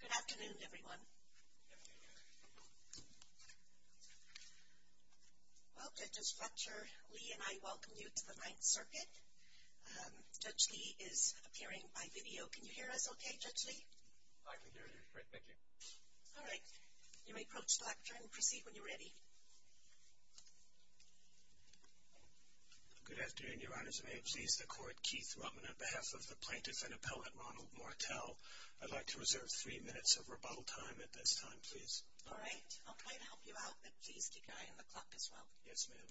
Good afternoon, everyone. Well, Judges Fletcher, Lee, and I welcome you to the Ninth Circuit. Judge Lee is appearing by video. Can you hear us okay, Judge Lee? I can hear you great, thank you. All right. You may approach the lectern and proceed when you're ready. Good afternoon, Your Honors. May it please the Court, Keith Ruttman, on behalf of the plaintiff and appellate, Ronald Martell. I'd like to reserve three minutes of rebuttal time at this time, please. All right. I'll try to help you out, but please keep an eye on the clock as well. Yes, ma'am.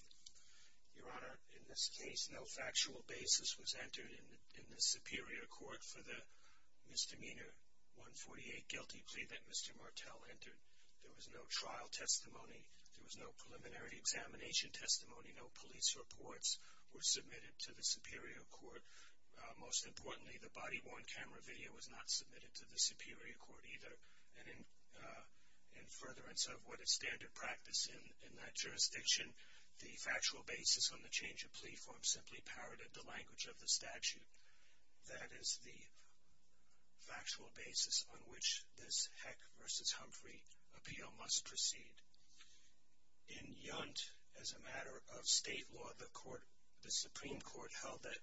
Your Honor, in this case, no factual basis was entered in the Superior Court for the misdemeanor 148 guilty plea that Mr. Martell entered. There was no trial testimony. There was no preliminary examination testimony. No police reports were submitted to the Superior Court. Most importantly, the body-worn camera video was not submitted to the Superior Court either. And in furtherance of what is standard practice in that jurisdiction, the factual basis on the change of plea form simply parroted the language of the statute. That is the factual basis on which this Heck v. Humphrey appeal must proceed. In Yunt, as a matter of state law, the Supreme Court held that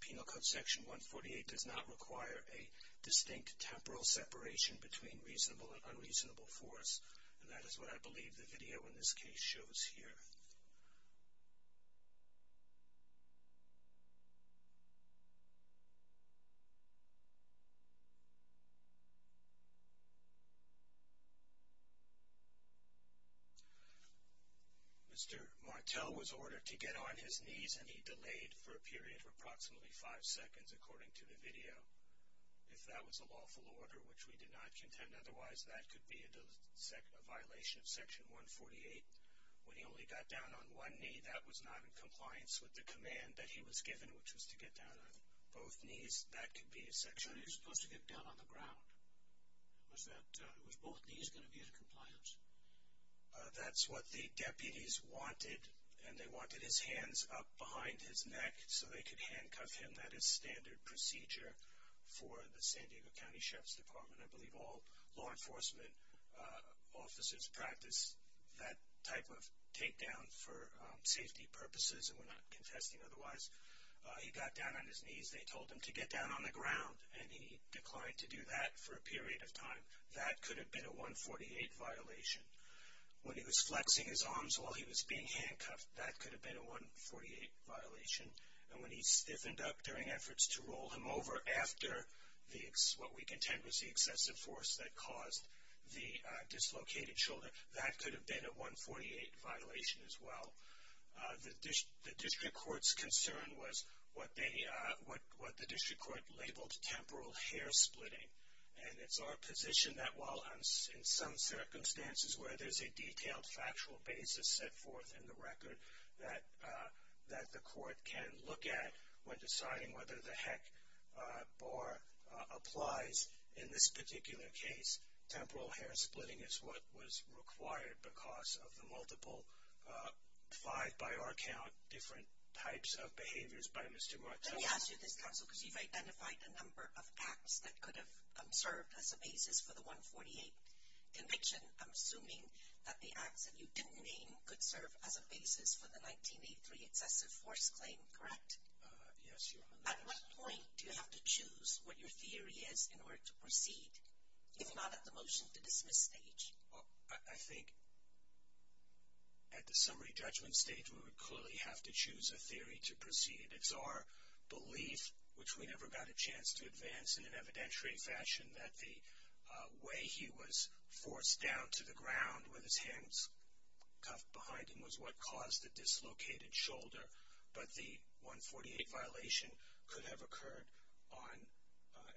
Penal Code Section 148 does not require a distinct temporal separation between reasonable and unreasonable force. And that is what I believe the video in this case shows here. Mr. Martell was ordered to get on his knees, and he delayed for a period of approximately five seconds, according to the video. If that was a lawful order, which we did not contend, otherwise that could be a violation of Section 148. When he only got down on one knee, that was not in compliance with the command that he was given, which was to get down on both knees. That could be a section... He was supposed to get down on the ground. Was both knees going to be in compliance? That's what the deputies wanted, and they wanted his hands up behind his neck so they could handcuff him. That is standard procedure for the San Diego County Sheriff's Department. I believe all law enforcement officers practice that type of takedown for safety purposes, and we're not confessing otherwise. He got down on his knees. They told him to get down on the ground, and he declined to do that for a period of time. That could have been a 148 violation. When he was flexing his arms while he was being handcuffed, that could have been a 148 violation. And when he stiffened up during efforts to roll him over after what we contend was the excessive force that caused the dislocated shoulder, that could have been a 148 violation as well. The district court's concern was what the district court labeled temporal hair splitting. And it's our position that while in some circumstances where there's a detailed factual basis set forth in the record that the court can look at when deciding whether the heck or applies in this particular case, temporal hair splitting is what was required because of the multiple, five by our count, different types of behaviors by Mr. Martelli. Let me ask you this, counsel, because you've identified a number of acts that could have served as a basis for the 148 conviction. I'm assuming that the acts that you didn't name could serve as a basis for the 1983 excessive force claim, correct? Yes, Your Honor. At what point do you have to choose what your theory is in order to proceed, if not at the motion to dismiss stage? I think at the summary judgment stage we would clearly have to choose a theory to proceed. It's our belief, which we never got a chance to advance in an evidentiary fashion, that the way he was forced down to the ground with his hands cuffed behind him was what caused the dislocated shoulder. But the 148 violation could have occurred on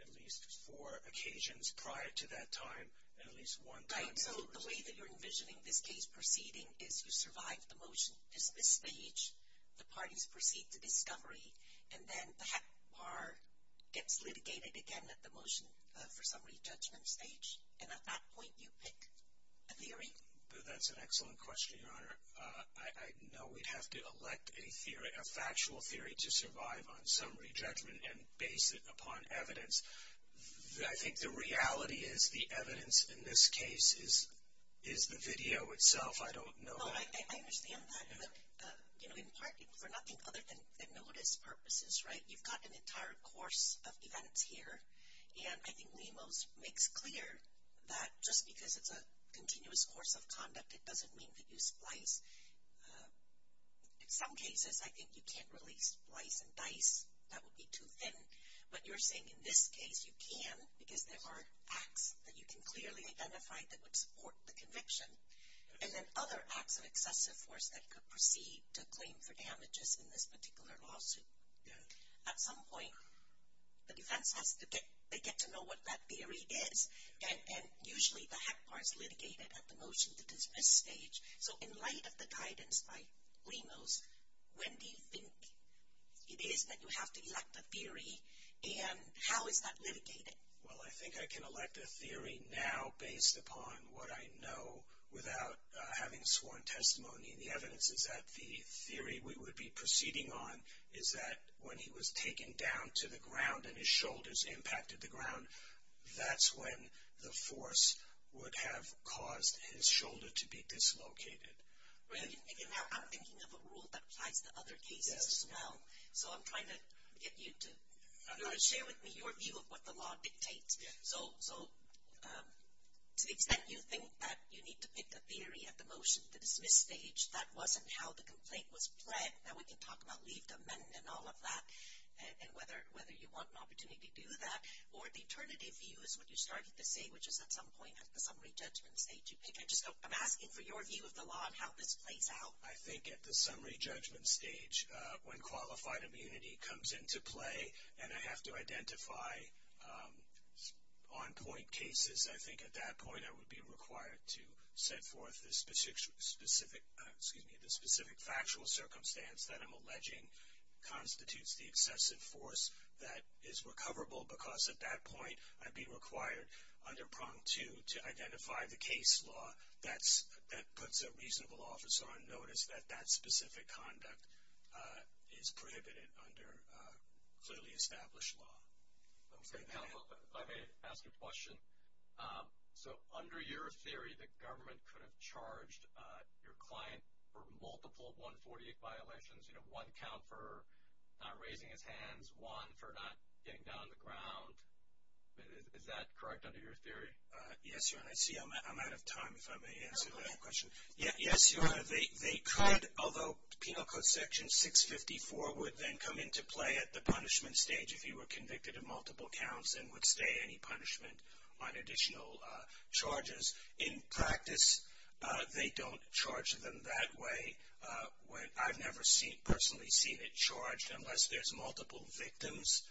at least four occasions prior to that time, and at least one time before. Right, so the way that you're envisioning this case proceeding is you survive the motion to dismiss stage. The parties proceed to discovery, and then that bar gets litigated again at the motion for summary judgment stage, and at that point you pick a theory? That's an excellent question, Your Honor. I know we'd have to elect a factual theory to survive on summary judgment and base it upon evidence. I think the reality is the evidence in this case is the video itself. I don't know. I understand that. But, you know, in part for nothing other than notice purposes, right, you've got an entire course of events here, and I think Mimos makes clear that just because it's a continuous course of conduct it doesn't mean that you splice. In some cases I think you can't really splice and dice. That would be too thin. But you're saying in this case you can because there are acts that you can clearly identify that would support the conviction. And then other acts of excessive force that could proceed to claim for damages in this particular lawsuit. Yeah. At some point the defense has to get to know what that theory is, and usually the hack bar is litigated at the motion to dismiss stage. So in light of the guidance by Mimos, when do you think it is that you have to elect a theory, and how is that litigated? Well, I think I can elect a theory now based upon what I know without having sworn testimony. And the evidence is that the theory we would be proceeding on is that when he was taken down to the ground and his shoulders impacted the ground, that's when the force would have caused his shoulder to be dislocated. And now I'm thinking of a rule that applies to other cases as well. So I'm trying to get you to share with me your view of what the law dictates. So to the extent you think that you need to pick a theory at the motion to dismiss stage, that wasn't how the complaint was pledged, now we can talk about leave to amend and all of that, and whether you want an opportunity to do that. Or the alternative view is what you started to say, which is at some point at the summary judgment stage. I'm asking for your view of the law and how this plays out. I think at the summary judgment stage, when qualified immunity comes into play and I have to identify on-point cases, I think at that point I would be required to set forth the specific factual circumstance that I'm alleging constitutes the excessive force that is recoverable, because at that point I'd be required under prong two to identify the case law that puts a reasonable officer on notice that that specific conduct is prohibited under clearly established law. Okay. If I may ask a question. So under your theory, the government could have charged your client for multiple 148 violations, you know, one count for not raising his hands, one for not getting down on the ground. Is that correct under your theory? Yes, Your Honor. I see I'm out of time, if I may answer that question. Yes, Your Honor. They could, although Penal Code Section 654 would then come into play at the punishment stage if you were convicted of multiple counts and would stay any punishment on additional charges. In practice, they don't charge them that way. I've never personally seen it charged unless there's multiple victims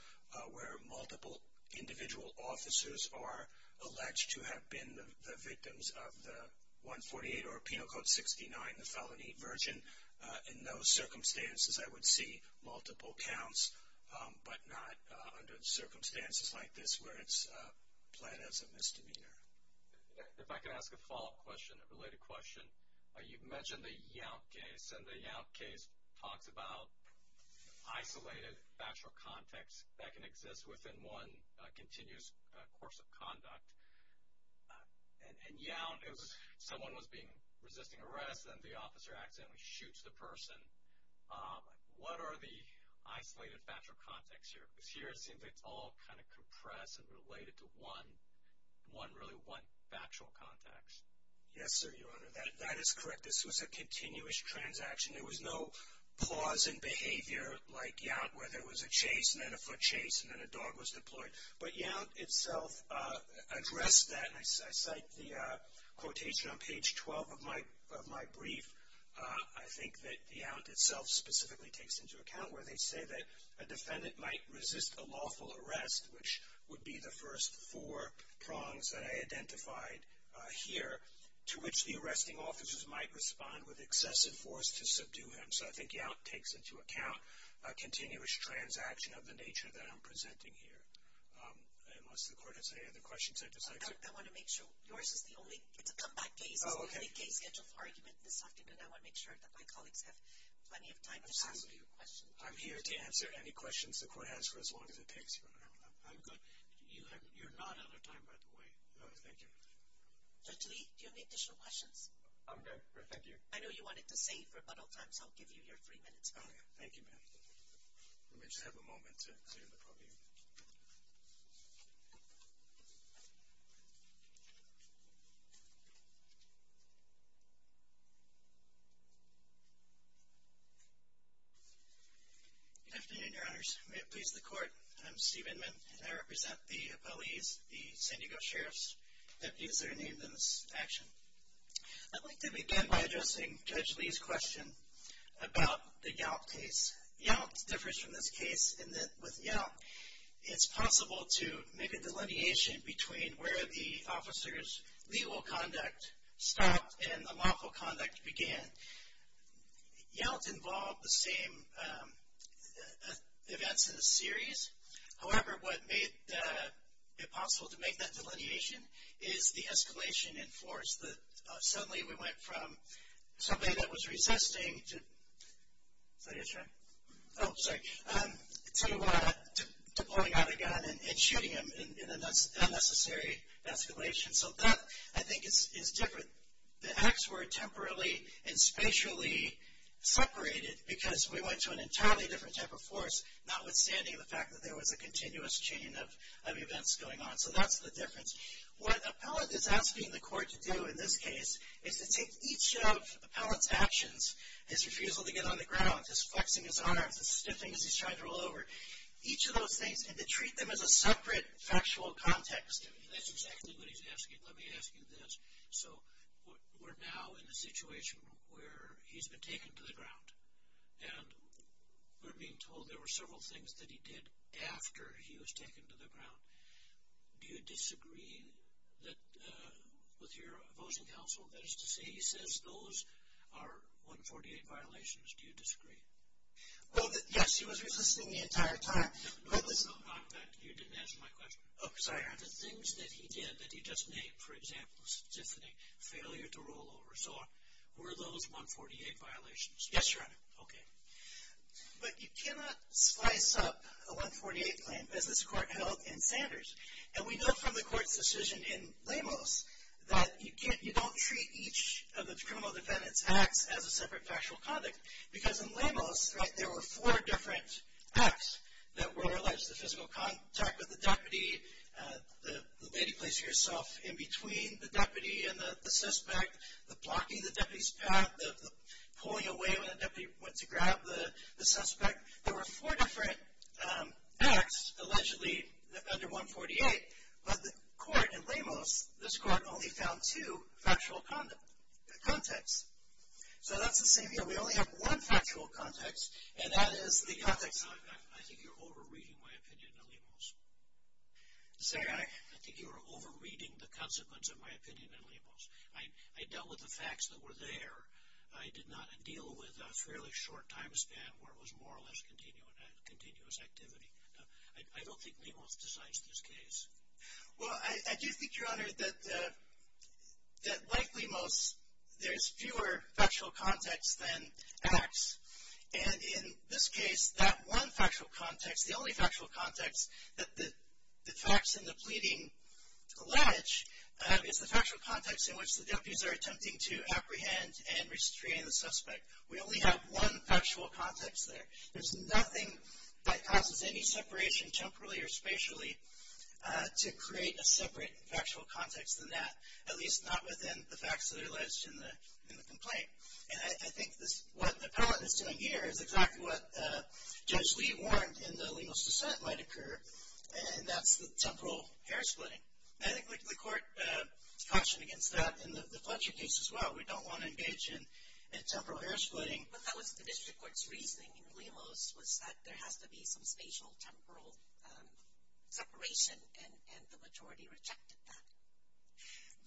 where multiple individual officers are alleged to have been the victims of the 148 or Penal Code 69, the felony version. In those circumstances, I would see multiple counts, but not under circumstances like this where it's planned as a misdemeanor. If I could ask a follow-up question, a related question. You mentioned the Yount case, and the Yount case talks about isolated factual context that can exist within one continuous course of conduct. In Yount, if someone was resisting arrest and the officer accidentally shoots the person, what are the isolated factual contexts here? Because here it seems like it's all kind of compressed and related to one, really one factual context. Yes, sir, Your Honor. That is correct. This was a continuous transaction. There was no pause in behavior like Yount where there was a chase and then a foot chase and then a dog was deployed. But Yount itself addressed that, and I cite the quotation on page 12 of my brief. I think that Yount itself specifically takes into account where they say that a defendant might resist a lawful arrest, which would be the first four prongs that I identified here, to which the arresting officers might respond with excessive force to subdue him. So I think Yount takes into account a continuous transaction of the nature that I'm presenting here. Unless the Court has any other questions, I'd just like to. I want to make sure. Yours is the only. It's a comeback case. Oh, okay. It's the only case-scheduled argument this afternoon. I want to make sure that my colleagues have plenty of time to ask you questions. I'm here to answer any questions the Court has for as long as it takes, Your Honor. I'm good. You're not out of time, by the way. Thank you. Judge Lee, do you have any additional questions? I'm good. Thank you. I know you wanted to save rebuttal time, so I'll give you your three minutes back. Okay. Thank you, ma'am. Let me just have a moment to clear the podium. Good afternoon, Your Honors. May it please the Court. I'm Steve Inman, and I represent the appellees, the San Diego Sheriff's Deputies that are named in this action. I'd like to begin by addressing Judge Lee's question about the Yelp case. Yelp differs from this case in that with Yelp, it's possible to make a delineation between where the officer's legal conduct stopped and the lawful conduct began. Yelp involved the same events in the series. However, what made it possible to make that delineation is the escalation in force. Suddenly, we went from somebody that was resisting to blowing out a gun and shooting him in an unnecessary escalation. So that, I think, is different. The acts were temporarily and spatially separated because we went to an entirely different type of force, notwithstanding the fact that there was a continuous chain of events going on. So that's the difference. What an appellant is asking the Court to do in this case is to take each of an appellant's actions, his refusal to get on the ground, his flexing his arms, his sniffing as he's trying to roll over, each of those things, and to treat them as a separate factual context. That's exactly what he's asking. Let me ask you this. So we're now in a situation where he's been taken to the ground, and we're being told there were several things that he did after he was taken to the ground. Do you disagree with your opposing counsel? That is to say, he says those are 148 violations. Do you disagree? Well, yes, he was resisting the entire time. No, not that. You didn't answer my question. Oh, sorry. The things that he did that he doesn't name, for example, sniffing, failure to roll over, were those 148 violations? Yes, Your Honor. Okay. But you cannot slice up a 148 claim as this Court held in Sanders. And we know from the Court's decision in Lamos that you don't treat each of the criminal defendant's acts as a separate factual context because in Lamos, right, there were four different acts that were alleged to physical contact with the deputy, the lady placing herself in between the deputy and the suspect, the blocking the deputy's path, the pulling away when the deputy went to grab the suspect. There were four different acts allegedly under 148, but the Court in Lamos, this Court only found two factual contexts. So that's the same here. We only have one factual context, and that is the context. I think you're over-reading my opinion in Lamos. Sorry? I think you are over-reading the consequence of my opinion in Lamos. I dealt with the facts that were there. I did not deal with a fairly short time span where it was more or less continuous activity. I don't think Lamos decides this case. Well, I do think, Your Honor, that likely most, there is fewer factual contexts than acts. And in this case, that one factual context, the only factual context that the facts in the pleading allege is the factual context in which the deputies are attempting to apprehend and restrain the suspect. We only have one factual context there. There's nothing that causes any separation, temporally or spatially, to create a separate factual context than that, at least not within the facts that are alleged in the complaint. And I think what the appellant is doing here is exactly what Judge Lee warned in the Lamos dissent might occur, and that's the temporal hair splitting. I think the Court cautioned against that in the Fletcher case as well. We don't want to engage in temporal hair splitting. But that was the district court's reasoning in Lamos was that there has to be some spatial temporal separation, and the majority rejected that.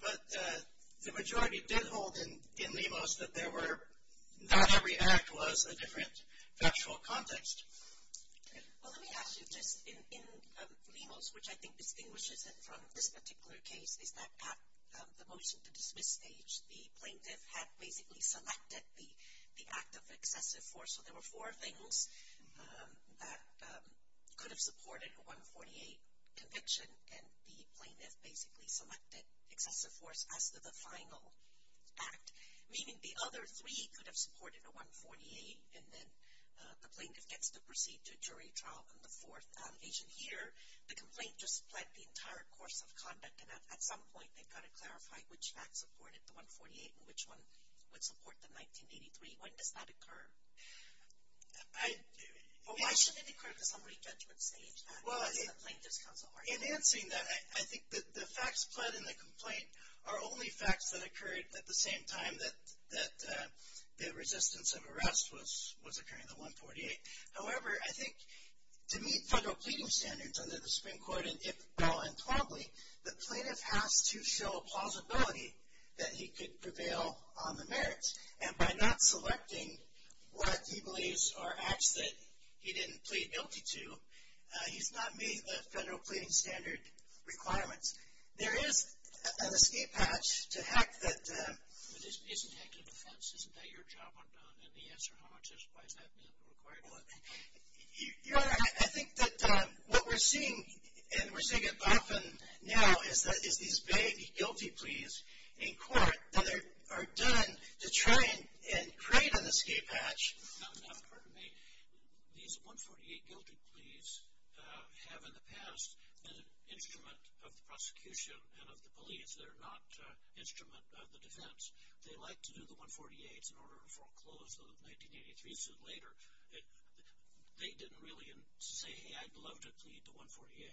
But the majority did hold in Lamos that there were, not every act was a different factual context. Well, let me ask you, just in Lamos, which I think distinguishes it from this particular case, is that at the motion to dismiss stage, the plaintiff had basically selected the act of excessive force, so there were four things that could have supported a 148 conviction, and the plaintiff basically selected excessive force as to the final act, meaning the other three could have supported a 148, and then the plaintiff gets to proceed to a jury trial on the fourth occasion. But here, the complaint just pled the entire course of conduct, and at some point, they've got to clarify which fact supported the 148 and which one would support the 1983. When does that occur? Well, why shouldn't it occur at the summary judgment stage? Well, in answering that, I think that the facts pled in the complaint are only facts that occurred at the same time that the resistance of arrest was occurring, the 148. However, I think to meet federal pleading standards under the Supreme Court, and if well and probably, the plaintiff has to show plausibility that he could prevail on the merits, and by not selecting what he believes are acts that he didn't plead guilty to, he's not meeting the federal pleading standard requirements. There is an escape hatch to heck that isn't heck in defense. Isn't that your job on down in the answer? How much is it? Why is that being required? Your Honor, I think that what we're seeing, and we're seeing it often now, is these big guilty pleas in court that are done to try and create an escape hatch. No, no, pardon me. These 148 guilty pleas have, in the past, been an instrument of the prosecution and of the police. They're not an instrument of the defense. They like to do the 148s in order to foreclose the 1983 suit later. They didn't really say, hey, I'd love to plead the 148.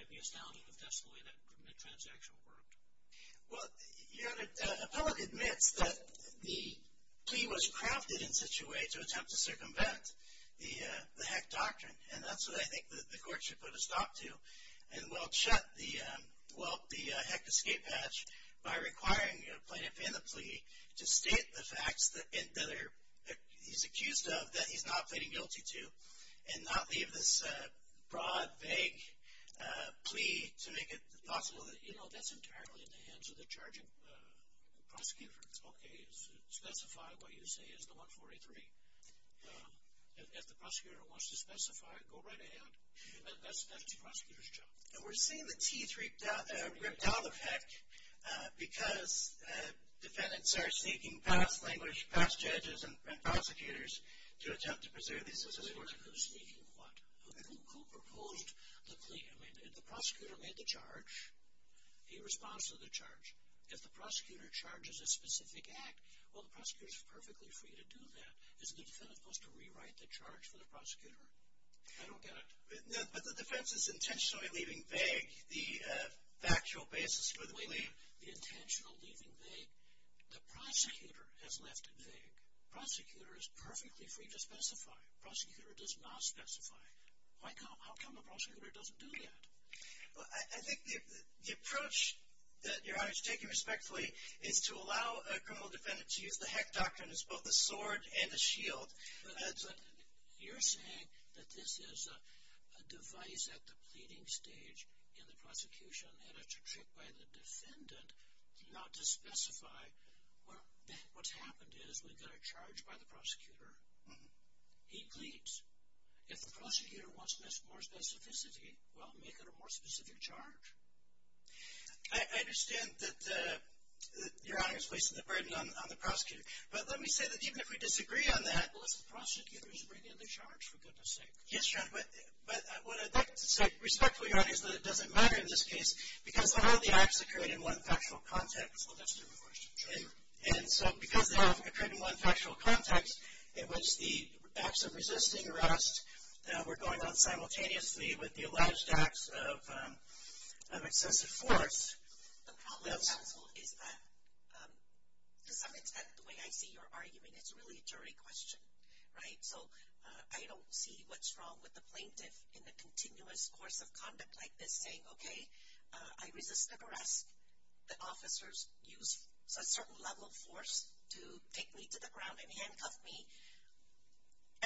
I'd be astounded if that's the way that transaction worked. Well, Your Honor, the public admits that the plea was crafted in such a way to attempt to circumvent the heck doctrine, and that's what I think the court should put a stop to and will shut the heck escape hatch by requiring a plaintiff in the plea to state the facts that he's accused of that he's not pleading guilty to and not leave this broad, vague plea to make it possible. You know, that's entirely in the hands of the charging prosecutor. Okay, specify what you say is the 148. If the prosecutor wants to specify, go right ahead. That's the prosecutor's job. We're seeing the teeth-ripped-out effect because defendants are seeking past language, past judges, and prosecutors to attempt to preserve these statistics. Who's seeking what? Who proposed the plea? I mean, if the prosecutor made the charge, he responds to the charge. If the prosecutor charges a specific act, well, the prosecutor's perfectly free to do that. Isn't the defendant supposed to rewrite the charge for the prosecutor? I don't get it. But the defense is intentionally leaving vague the factual basis for the plea. Wait a minute. The intentional leaving vague? The prosecutor has left it vague. Prosecutor is perfectly free to specify. Prosecutor does not specify. How come the prosecutor doesn't do that? I think the approach, Your Honor, to take him respectfully, is to allow a criminal defendant to use the heck doctrine as both a sword and a shield. You're saying that this is a device at the pleading stage in the prosecution, and it's a trick by the defendant not to specify. What's happened is we've got a charge by the prosecutor. He pleads. If the prosecutor wants more specificity, well, make it a more specific charge. I understand that Your Honor is wasting the burden on the prosecutor. But let me say that even if we disagree on that, the prosecutor is bringing the charge, for goodness sake. Yes, Your Honor, but what I'd like to say respectfully, Your Honor, is that it doesn't matter in this case because all the acts occurred in one factual context. Well, that's a different question. Sure. And so because they occurred in one factual context in which the acts of resisting arrest were going on simultaneously with the alleged acts of excessive force. The problem, counsel, is that to some extent the way I see your argument, it's really a jury question, right? So I don't see what's wrong with the plaintiff in the continuous course of conduct like this saying, okay, I resisted arrest. The officers used a certain level of force to take me to the ground and handcuff me.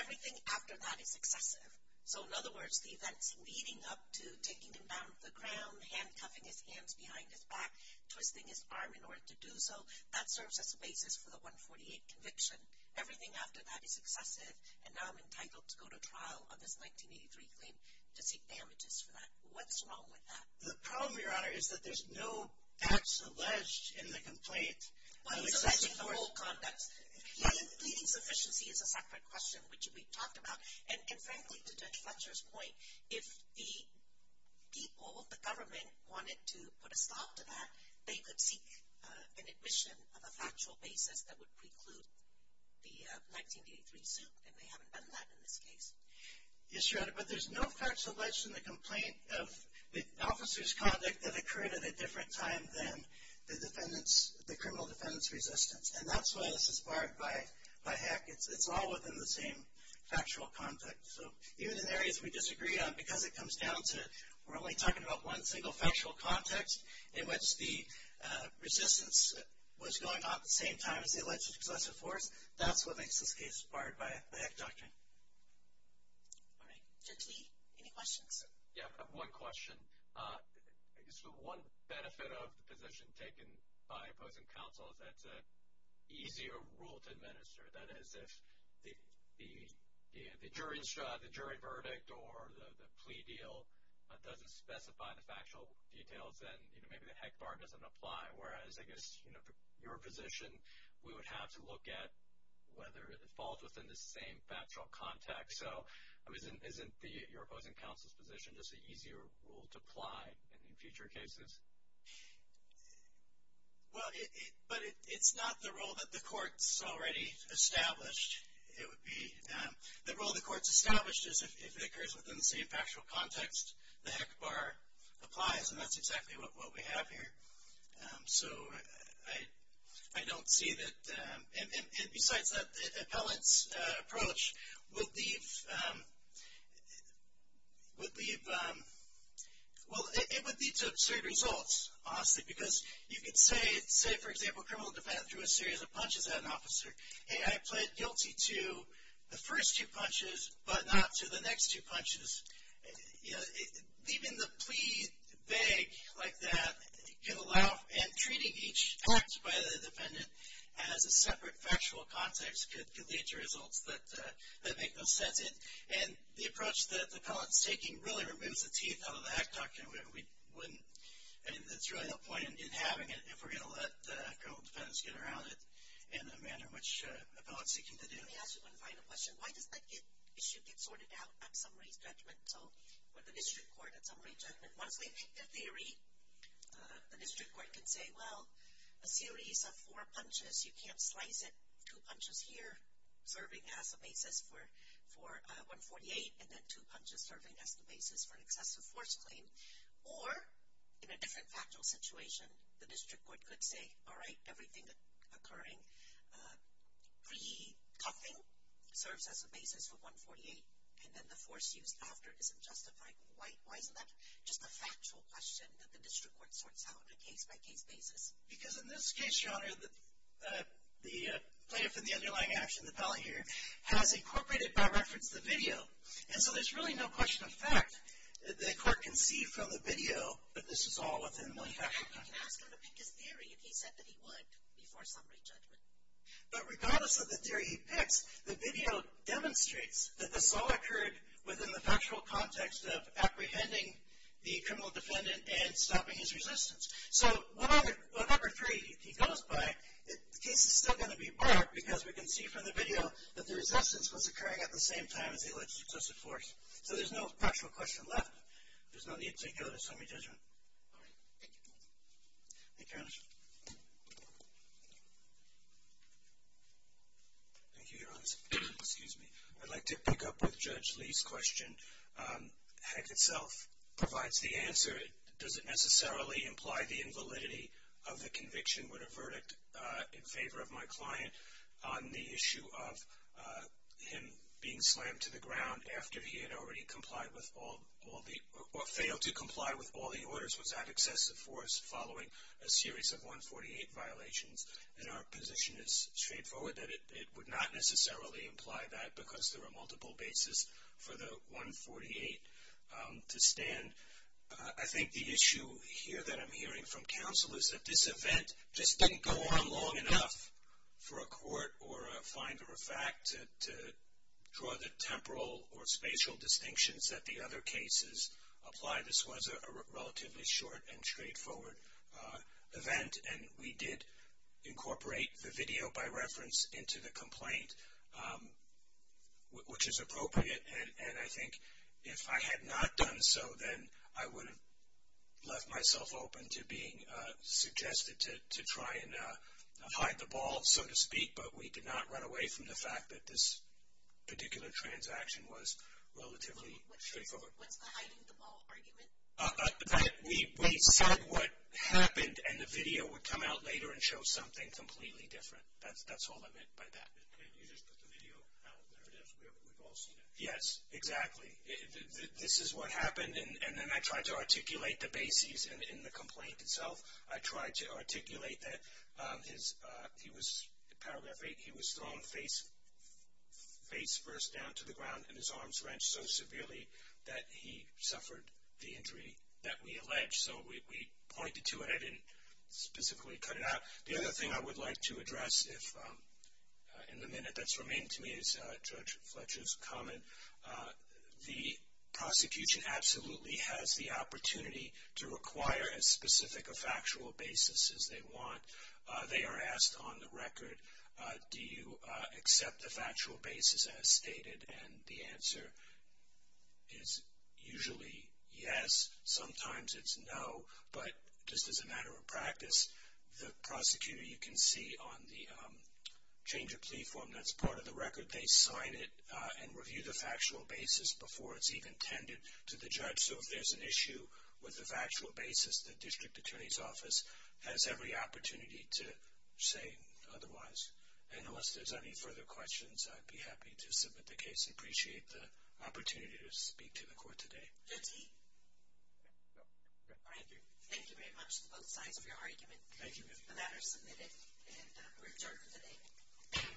Everything after that is excessive. So in other words, the events leading up to taking him down to the ground, handcuffing his hands behind his back, twisting his arm in order to do so, that serves as a basis for the 148 conviction. Everything after that is excessive, and now I'm entitled to go to trial on this 1983 claim to seek damages for that. What's wrong with that? The problem, Your Honor, is that there's no facts alleged in the complaint of excessive force. Well, it's alleged in the whole context. Leading sufficiency is a separate question, which we've talked about. And frankly, to Judge Fletcher's point, if the people, the government, wanted to put a stop to that, they could seek an admission of a factual basis that would preclude the 1983 suit, and they haven't done that in this case. Yes, Your Honor, but there's no facts alleged in the complaint of the officer's conduct that occurred at a different time than the criminal defendant's resistance. And that's why this is barred by HEC. It's all within the same factual context. So even in areas we disagree on, because it comes down to we're only talking about one single factual context in which the resistance was going on at the same time as the alleged excessive force, that's what makes this case barred by the HEC doctrine. All right. Judge Lee, any questions? Yeah, I have one question. I guess the one benefit of the position taken by opposing counsel is that it's an easier rule to administer. That is, if the jury verdict or the plea deal doesn't specify the factual details, then maybe the HEC bar doesn't apply. Whereas, I guess, you know, for your position, we would have to look at whether it falls within the same factual context. So isn't your opposing counsel's position just an easier rule to apply in future cases? Well, but it's not the rule that the court's already established. The rule the court's established is if it occurs within the same factual context, the HEC bar applies. And that's exactly what we have here. So I don't see that. And besides that, the appellant's approach would leave, well, it would lead to absurd results, honestly. Because you could say, say, for example, a criminal defendant threw a series of punches at an officer, and I pled guilty to the first two punches but not to the next two punches. You know, leaving the plea vague like that could allow, and treating each act by the defendant as a separate factual context could lead to results that make no sense. And the approach that the appellant's taking really removes the teeth out of the HEC document. We wouldn't, I mean, there's really no point in having it if we're going to let a couple of defendants get around it in a manner which the appellant's seeking to do. Let me ask you one final question. Why does that issue get sorted out at summary judgment, or the district court at summary judgment? Honestly, in theory, the district court could say, well, a series of four punches, you can't slice it, two punches here serving as a basis for 148, and then two punches serving as the basis for an excessive force claim. Or, in a different factual situation, the district court could say, all right, everything occurring pre-cuffing serves as a basis for 148, and then the force used after isn't justified. Why isn't that just a factual question that the district court sorts out on a case-by-case basis? Because in this case, Your Honor, the plaintiff in the underlying action, the appellant here, has incorporated by reference the video. And so there's really no question of fact that the court can see from the video that this is all within the money. You can ask him to pick his theory if he said that he would before summary judgment. But regardless of the theory he picks, the video demonstrates that this all occurred within the factual context of apprehending the criminal defendant and stopping his resistance. So whatever theory he goes by, the case is still going to be barred because we can see from the video that the resistance was occurring at the same time as the alleged excessive force. So there's no factual question left. There's no need to go to summary judgment. All right. Thank you. Thank you, Your Honor. Thank you, Your Honor. Excuse me. I'd like to pick up with Judge Lee's question. Heck itself provides the answer. Does it necessarily imply the invalidity of the conviction with a verdict in favor of my client on the issue of him being slammed to the ground after he had already complied with all the orders was that excessive force following a series of 148 violations? And our position is straightforward that it would not necessarily imply that because there are multiple bases for the 148 to stand. I think the issue here that I'm hearing from counsel is that this event just didn't go on long enough for a court or a finder of fact to draw the temporal or spatial distinctions that the other cases apply. This was a relatively short and straightforward event, and we did incorporate the video by reference into the complaint, which is appropriate. And I think if I had not done so, then I would have left myself open to being suggested to try and hide the ball, so to speak. But we did not run away from the fact that this particular transaction was relatively straightforward. What's the hiding the ball argument? That we said what happened, and the video would come out later and show something completely different. That's all I meant by that. You just put the video out. There it is. We've all seen it. Yes, exactly. This is what happened, and then I tried to articulate the bases in the complaint itself. I tried to articulate that in Paragraph 8 he was thrown face first down to the ground and his arms wrenched so severely that he suffered the injury that we alleged. So we pointed to it. I didn't specifically cut it out. The other thing I would like to address in the minute that's remained to me is Judge Fletcher's comment. The prosecution absolutely has the opportunity to require as specific a factual basis as they want. They are asked on the record, do you accept the factual basis as stated? And the answer is usually yes. Sometimes it's no, but just as a matter of practice, the prosecutor you can see on the change of plea form that's part of the record, they sign it and review the factual basis before it's even tended to the judge. So if there's an issue with the factual basis, the district attorney's office has every opportunity to say otherwise. And unless there's any further questions, I'd be happy to submit the case. I appreciate the opportunity to speak to the court today. Thank you. Thank you very much to both sides for your argument. Thank you. The matter is submitted, and we're adjourned for today. All rise.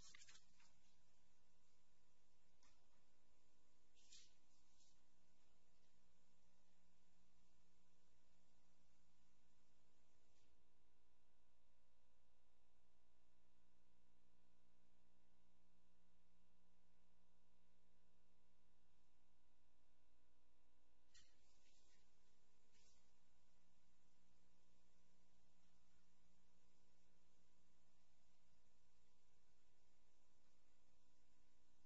Court for this session stands adjourned. Thank you. Thank you. Thank you. Thank you. Thank you. Thank you. Thank you. Thank you.